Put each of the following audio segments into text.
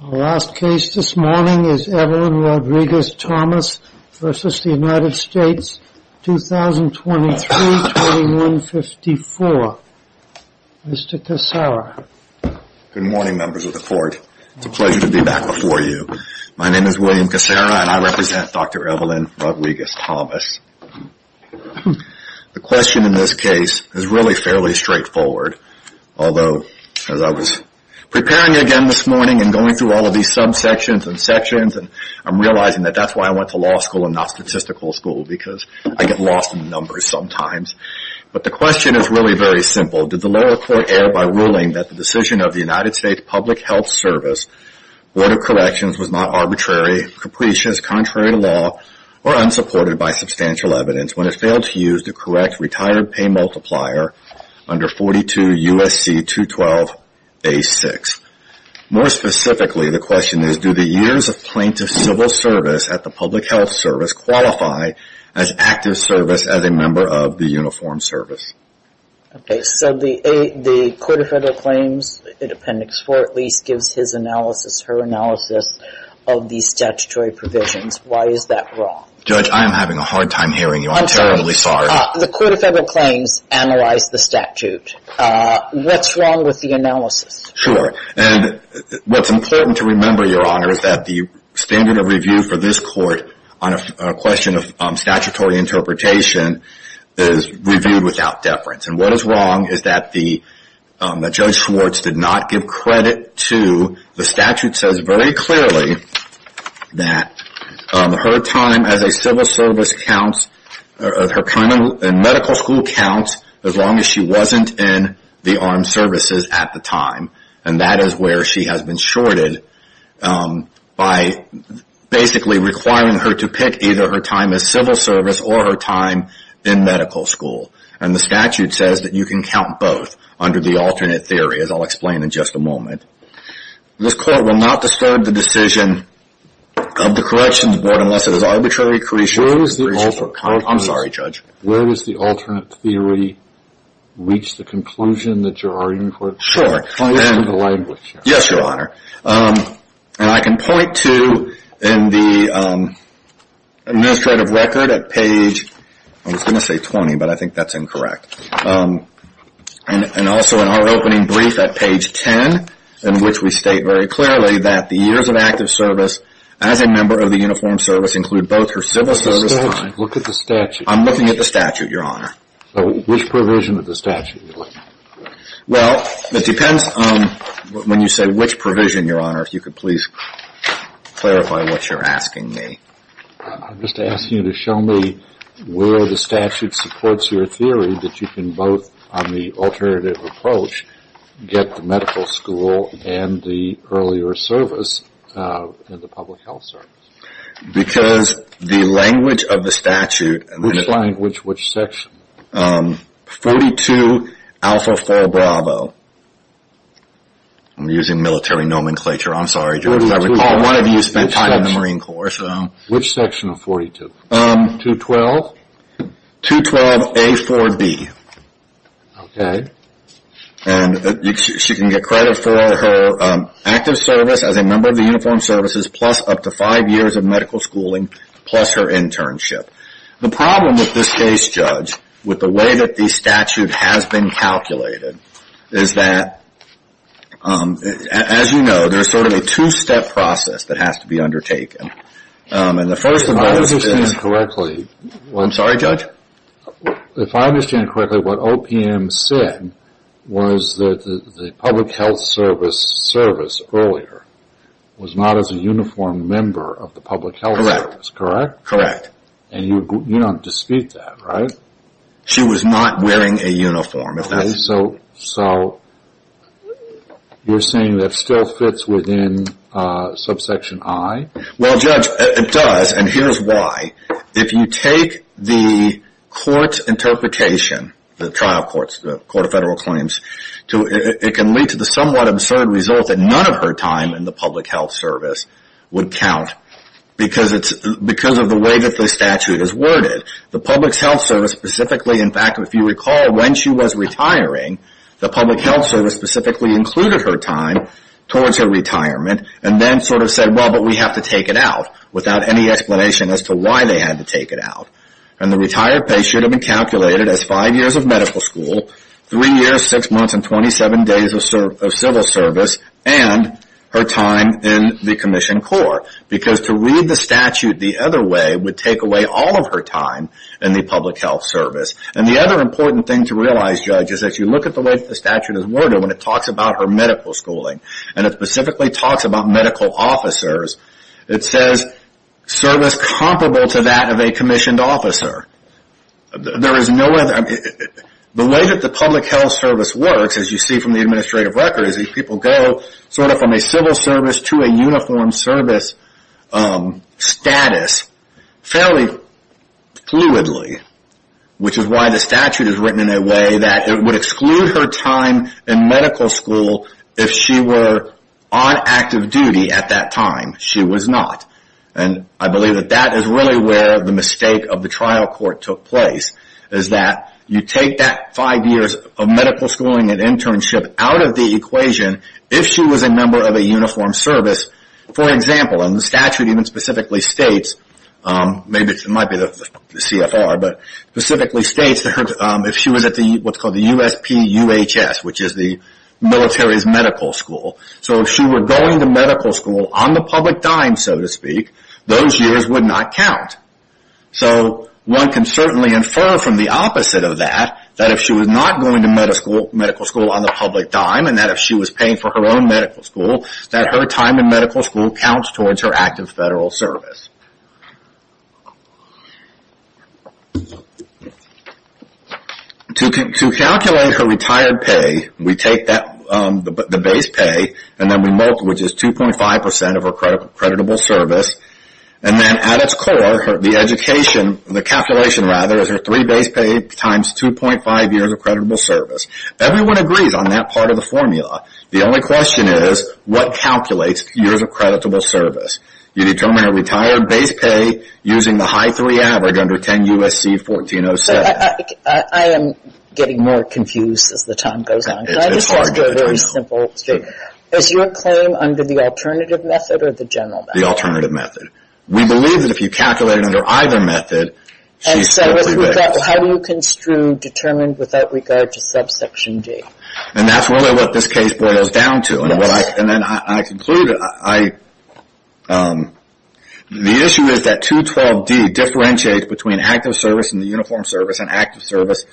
Our last case this morning is Evelyn Rodriguez Thomas v. United States, 2023-2154. Mr. Cassara. Good morning members of the court. It's a pleasure to be back before you. My name is William Cassara and I represent Dr. Evelyn Rodriguez Thomas. The question in this case is really fairly straightforward. Although, as I was preparing again this morning and going through all of these subsections and sections, I'm realizing that that's why I went to law school and not statistical school because I get lost in the numbers sometimes. But the question is really very simple. Did the lower court err by ruling that the decision of the United States Public Health Service Board of Corrections was not arbitrary, capricious, contrary to law, or unsupported by substantial evidence when it failed to use the correct retired pay multiplier under 42 U.S.C. 212-A6? More specifically, the question is, do the years of plaintiff civil service at the public health service qualify as active service as a member of the uniformed service? Okay, so the Court of Federal Claims, Appendix 4 at least, gives his analysis, her analysis of these statutory provisions. Why is that wrong? Judge, I am having a hard time hearing you. I'm terribly sorry. The Court of Federal Claims analyzed the statute. What's wrong with the analysis? Sure. And what's important to remember, Your Honor, is that the standard of review for this court on a question of statutory interpretation is reviewed without deference. And what is wrong is that the Judge Schwartz did not give credit to the statute says very clearly that her time as a civil service counts, her time in medical school counts as long as she wasn't in the armed services at the time. And that is where she has been shorted by basically requiring her to pick either her time as civil service or her time in medical school. And the statute says that you can count both under the alternate theory, as I'll explain in just a moment. This Court will not disturb the decision of the Corrections Board unless it is arbitrarily crucial. I'm sorry, Judge. Where does the alternate theory reach the conclusion that you're arguing for? Sure. Listen to the language. Yes, Your Honor. And I can point to in the administrative record at page, I was going to point to, in which we state very clearly that the years of active service as a member of the Uniformed Service include both her civil service time. Look at the statute. I'm looking at the statute, Your Honor. Which provision of the statute are you looking at? Well, it depends on when you say which provision, Your Honor, if you could please clarify what you're asking me. I'm just asking you to show me where the statute supports your theory that you can both on the alternative approach get the medical school and the earlier service, the public health service. Because the language of the statute. Which language, which section? 42 Alpha 4 Bravo. I'm using military nomenclature. I'm sorry, Judge. I recall one of you spent time in the Marine Corps. Which section of 42? 212? 212 A4B. Okay. And she can get credit for her active service as a member of the Uniformed Services plus up to five years of medical schooling plus her internship. The problem with this case, Judge, with the way that the statute has been calculated, is that, as you know, there's sort of a two-step process that has to be undertaken. If I understand correctly, what OPM said was that the public health service earlier was not as a uniformed member of the public health service, correct? Correct. And you don't dispute that, right? She was not wearing a uniform. So you're saying that still fits within subsection I? Well, Judge, it does. And here's why. If you take the court's interpretation, the trial courts, the Court of Federal Claims, it can lead to the somewhat absurd result that none of her time in the public health service would count because of the way that the statute is worded. The public health service specifically, in fact, if you recall when she was retiring, the public health service specifically included her time towards her retirement and then sort of said, well, but we have to take it out without any explanation as to why they had to take it out. And the retired patient had been calculated as five years of medical school, three years, six months, and 27 days of civil service, and her time in the Commissioned Corps. Because to read the statute the other way would take away all of her time in the public health service. And the other important thing to realize, Judge, is that you look at the way the statute is worded when it talks about her medical schooling, and it specifically talks about medical officers, it says service comparable to that of a commissioned officer. There is no other. The way that the public health service works, as you see from the administrative records, these people go sort of from a civil service to a uniformed service status fairly fluidly, which is why the statute is written in a way that it would exclude her time in medical school if she were on active duty at that time. She was not. And I believe that that is really where the mistake of the trial court took place, is that you take that five years of medical schooling and internship out of the equation if she was a member of a uniformed service. For example, and the statute even specifically states, maybe it might be the CFR, but specifically states that if she was at what is called the USPUHS, which is the military's medical school. So if she were going to medical school on the public dime, so to speak, those years would not count. So one can certainly infer from the opposite of that, that if she was not going to medical school on the public dime, and that if she was paying for her own medical school, that her time in medical school counts towards her active federal service. To calculate her retired pay, we take the base pay, and then we multiply it, which is 2.5% of her creditable service. And then at its core, the calculation is her three base pay times 2.5 years of creditable service. Everyone agrees on that part of the formula. The only question is, what calculates years of creditable service? You determine her retired base pay using the high three average under 10 U.S.C. 1407. I am getting more confused as the time goes on. Can I just ask you a very simple question? Is your claim under the alternative method or the general method? The alternative method. We believe that if you calculate it under either method, she's strictly based. How do you construe determined without regard to subsection D? And that's really what this case boils down to. And then I conclude, the issue is that 212D differentiates between active service and the uniform service and active service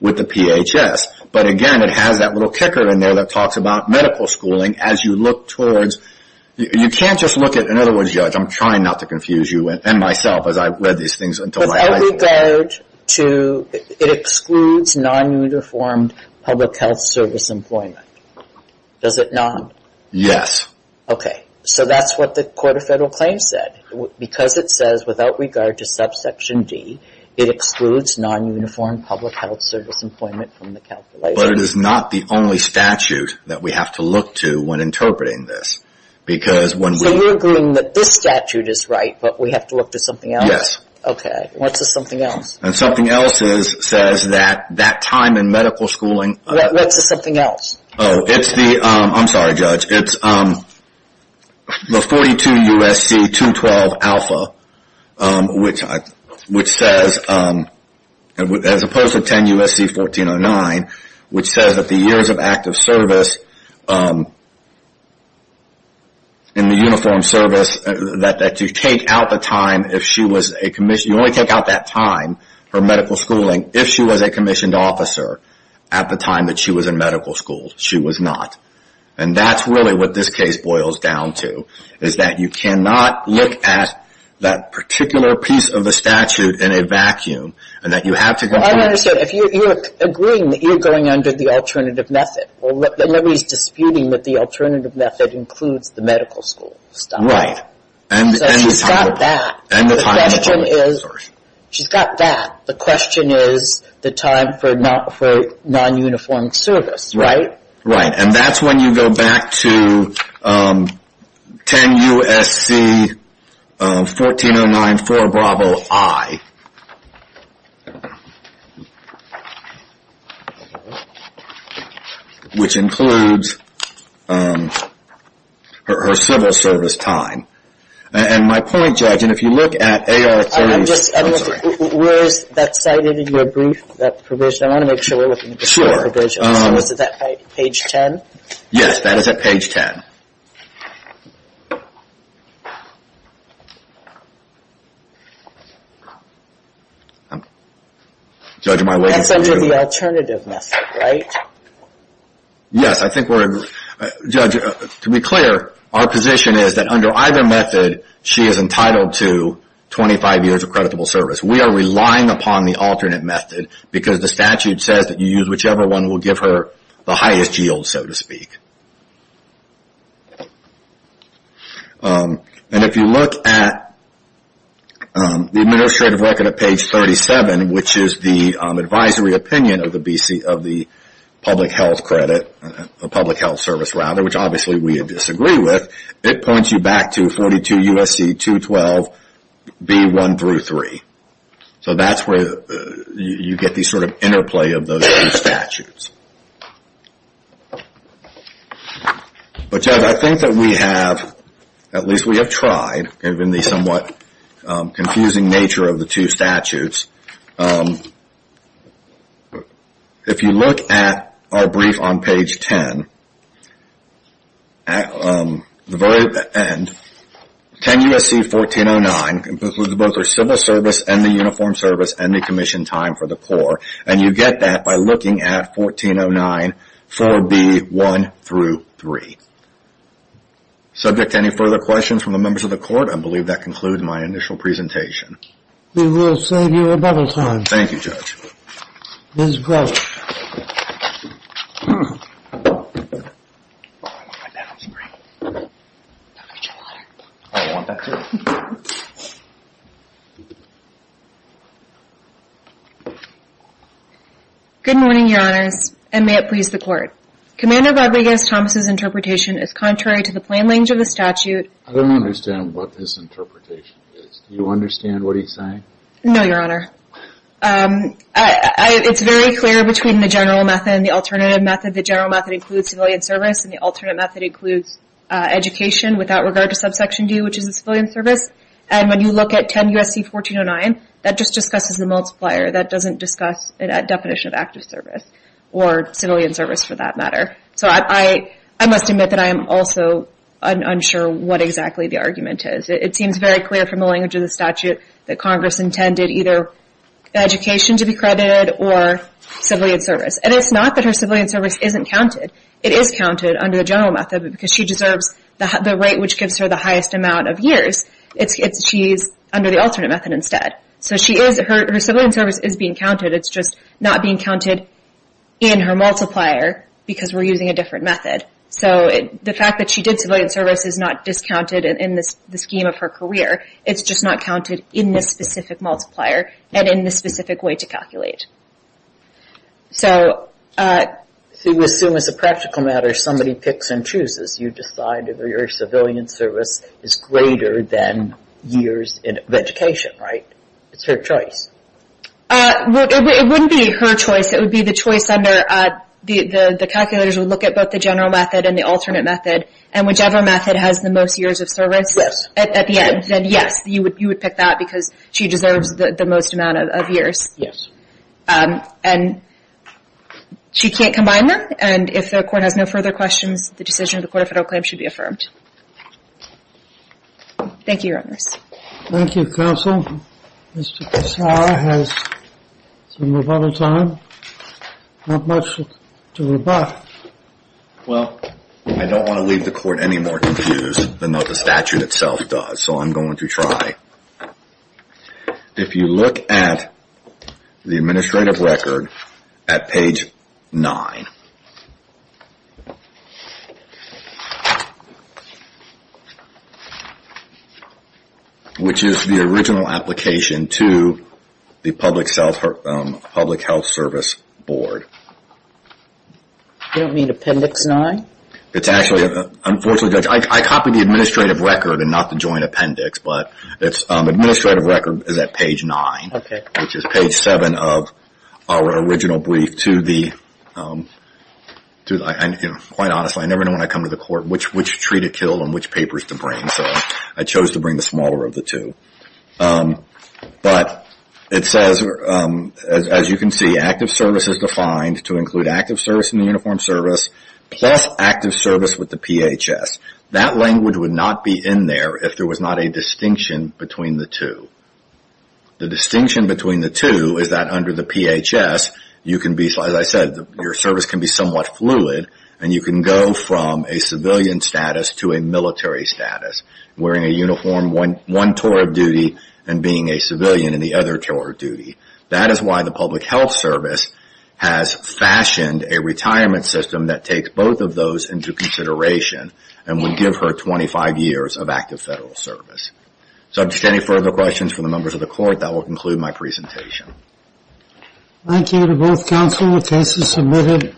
with the PHS. But again, it has that little kicker in there that talks about medical schooling. As you look towards, you can't just look at, in other words, Judge, I'm trying not to confuse you and myself as I've read these things. Without regard to, it excludes non-uniformed public health service employment. Does it not? Yes. Okay. So that's what the Court of Federal Claims said. Because it says without regard to subsection D, it excludes non-uniformed public health service employment from the calculation. But it is not the only statute that we have to look to when interpreting this. So you're agreeing that this statute is right, but we have to look to something else? Yes. What's the something else? And something else says that that time in medical schooling. What's the something else? Oh, it's the, I'm sorry, Judge, it's the 42 U.S.C. 212 alpha, which says, as opposed to 10 U.S.C. 1409, which says that the years of active service in the uniform service, that you take out the time if she was a commissioned, you only take out that time for medical schooling if she was a commissioned officer at the time that she was in medical school. She was not. And that's really what this case boils down to, is that you cannot look at that particular piece of the statute in a vacuum, and that you have to. I don't understand. If you're agreeing that you're going under the alternative method, well, then nobody's disputing that the alternative method includes the medical school stuff. So she's got that. The question is, she's got that. The question is the time for non-uniformed service, right? Right. And that's when you go back to 10 U.S.C. 1409-4 Bravo I, which includes her civil service time. And my point, Judge, and if you look at AR-3... I'm just, where is that cited in your brief, that provision? I want to make sure we're looking at the full provision. So is it that page 10? Yes, that is at page 10. Judge, am I losing you? That's under the alternative method, right? Yes, I think we're... Judge, to be clear, our position is that under either method, she is entitled to 25 years of creditable service. We are relying upon the alternate method, because the statute says that you use whichever one will give her the highest yield, so to speak. And if you look at the administrative record at page 37, which is the advisory opinion of the public health service, which obviously we disagree with, it points you back to 42 U.S.C. 212B1-3. So that's where you get the sort of interplay of those two statutes. But, Judge, I think that we have, at least we have tried, given the somewhat confusing nature of the two statutes. If you look at our brief on page 10, at the very end, 10 U.S.C. 1409, this was both the civil service and the uniformed service and the commission time for the poor, and you get that by looking at 1409 4B1-3. Subject to any further questions from the members of the court, I believe that concludes my initial presentation. We will save you a bubble time. Thank you, Judge. Ms. Gross. I don't want that, I'm sorry. Don't get your water. I don't want that, too. Good morning, Your Honors, and may it please the court. Commander Rodriguez-Thomas' interpretation is contrary to the plain language of the statute. I don't understand what this interpretation is. Do you understand what he's saying? No, Your Honor. It's very clear between the general method and the alternative method. The general method includes civilian service, and the alternate method includes education without regard to subsection D, which is the civilian service. And when you look at 10 U.S.C. 1409, that just discusses the multiplier. That doesn't discuss the definition of active service or civilian service, for that matter. So I must admit that I am also unsure what exactly the argument is. It seems very clear from the language of the statute that Congress intended either education to be credited or civilian service. And it's not that her civilian service isn't counted. It is counted under the general method because she deserves the rate which gives her the highest amount of years. She's under the alternate method instead. So her civilian service is being counted. It's just not being counted in her multiplier because we're using a different method. So the fact that she did civilian service is not discounted in the scheme of her career. It's just not counted in this specific multiplier and in this specific way to calculate. So... So you assume as a practical matter somebody picks and chooses. You decide whether your civilian service is greater than years of education, right? It's her choice. It wouldn't be her choice. It would be the choice under... The calculators would look at both the general method and the alternate method. And whichever method has the most years of service... Yes. ...at the end, then yes, you would pick that because she deserves the most amount of years. Yes. And she can't combine them. And if the Court has no further questions, the decision of the Court of Federal Claims should be affirmed. Thank you, Your Honors. Thank you, Counsel. Mr. Pissar has some more time. Not much to rebut. Well, I don't want to leave the Court any more confused than though the statute itself does. So I'm going to try. If you look at the administrative record at page 9... ...which is the original application to the Public Health Service Board... You don't mean Appendix 9? It's actually... I copied the administrative record and not the joint appendix, but the administrative record is at page 9... ...which is page 7 of our original brief to the... Quite honestly, I never know when I come to the Court which tree to kill and which papers to bring, so I chose to bring the smaller of the two. But it says, as you can see, active service is defined to include active service in the uniformed service plus active service with the PHS. That language would not be in there if there was not a distinction between the two. The distinction between the two is that under the PHS, as I said, your service can be somewhat fluid and you can go from a civilian status to a military status, wearing a uniform one tour of duty and being a civilian in the other tour of duty. That is why the Public Health Service has fashioned a retirement system that takes both of those into consideration and would give her 25 years of active federal service. If there are any further questions from the members of the Court, that will conclude my presentation. Thank you to both counsel. The case is submitted.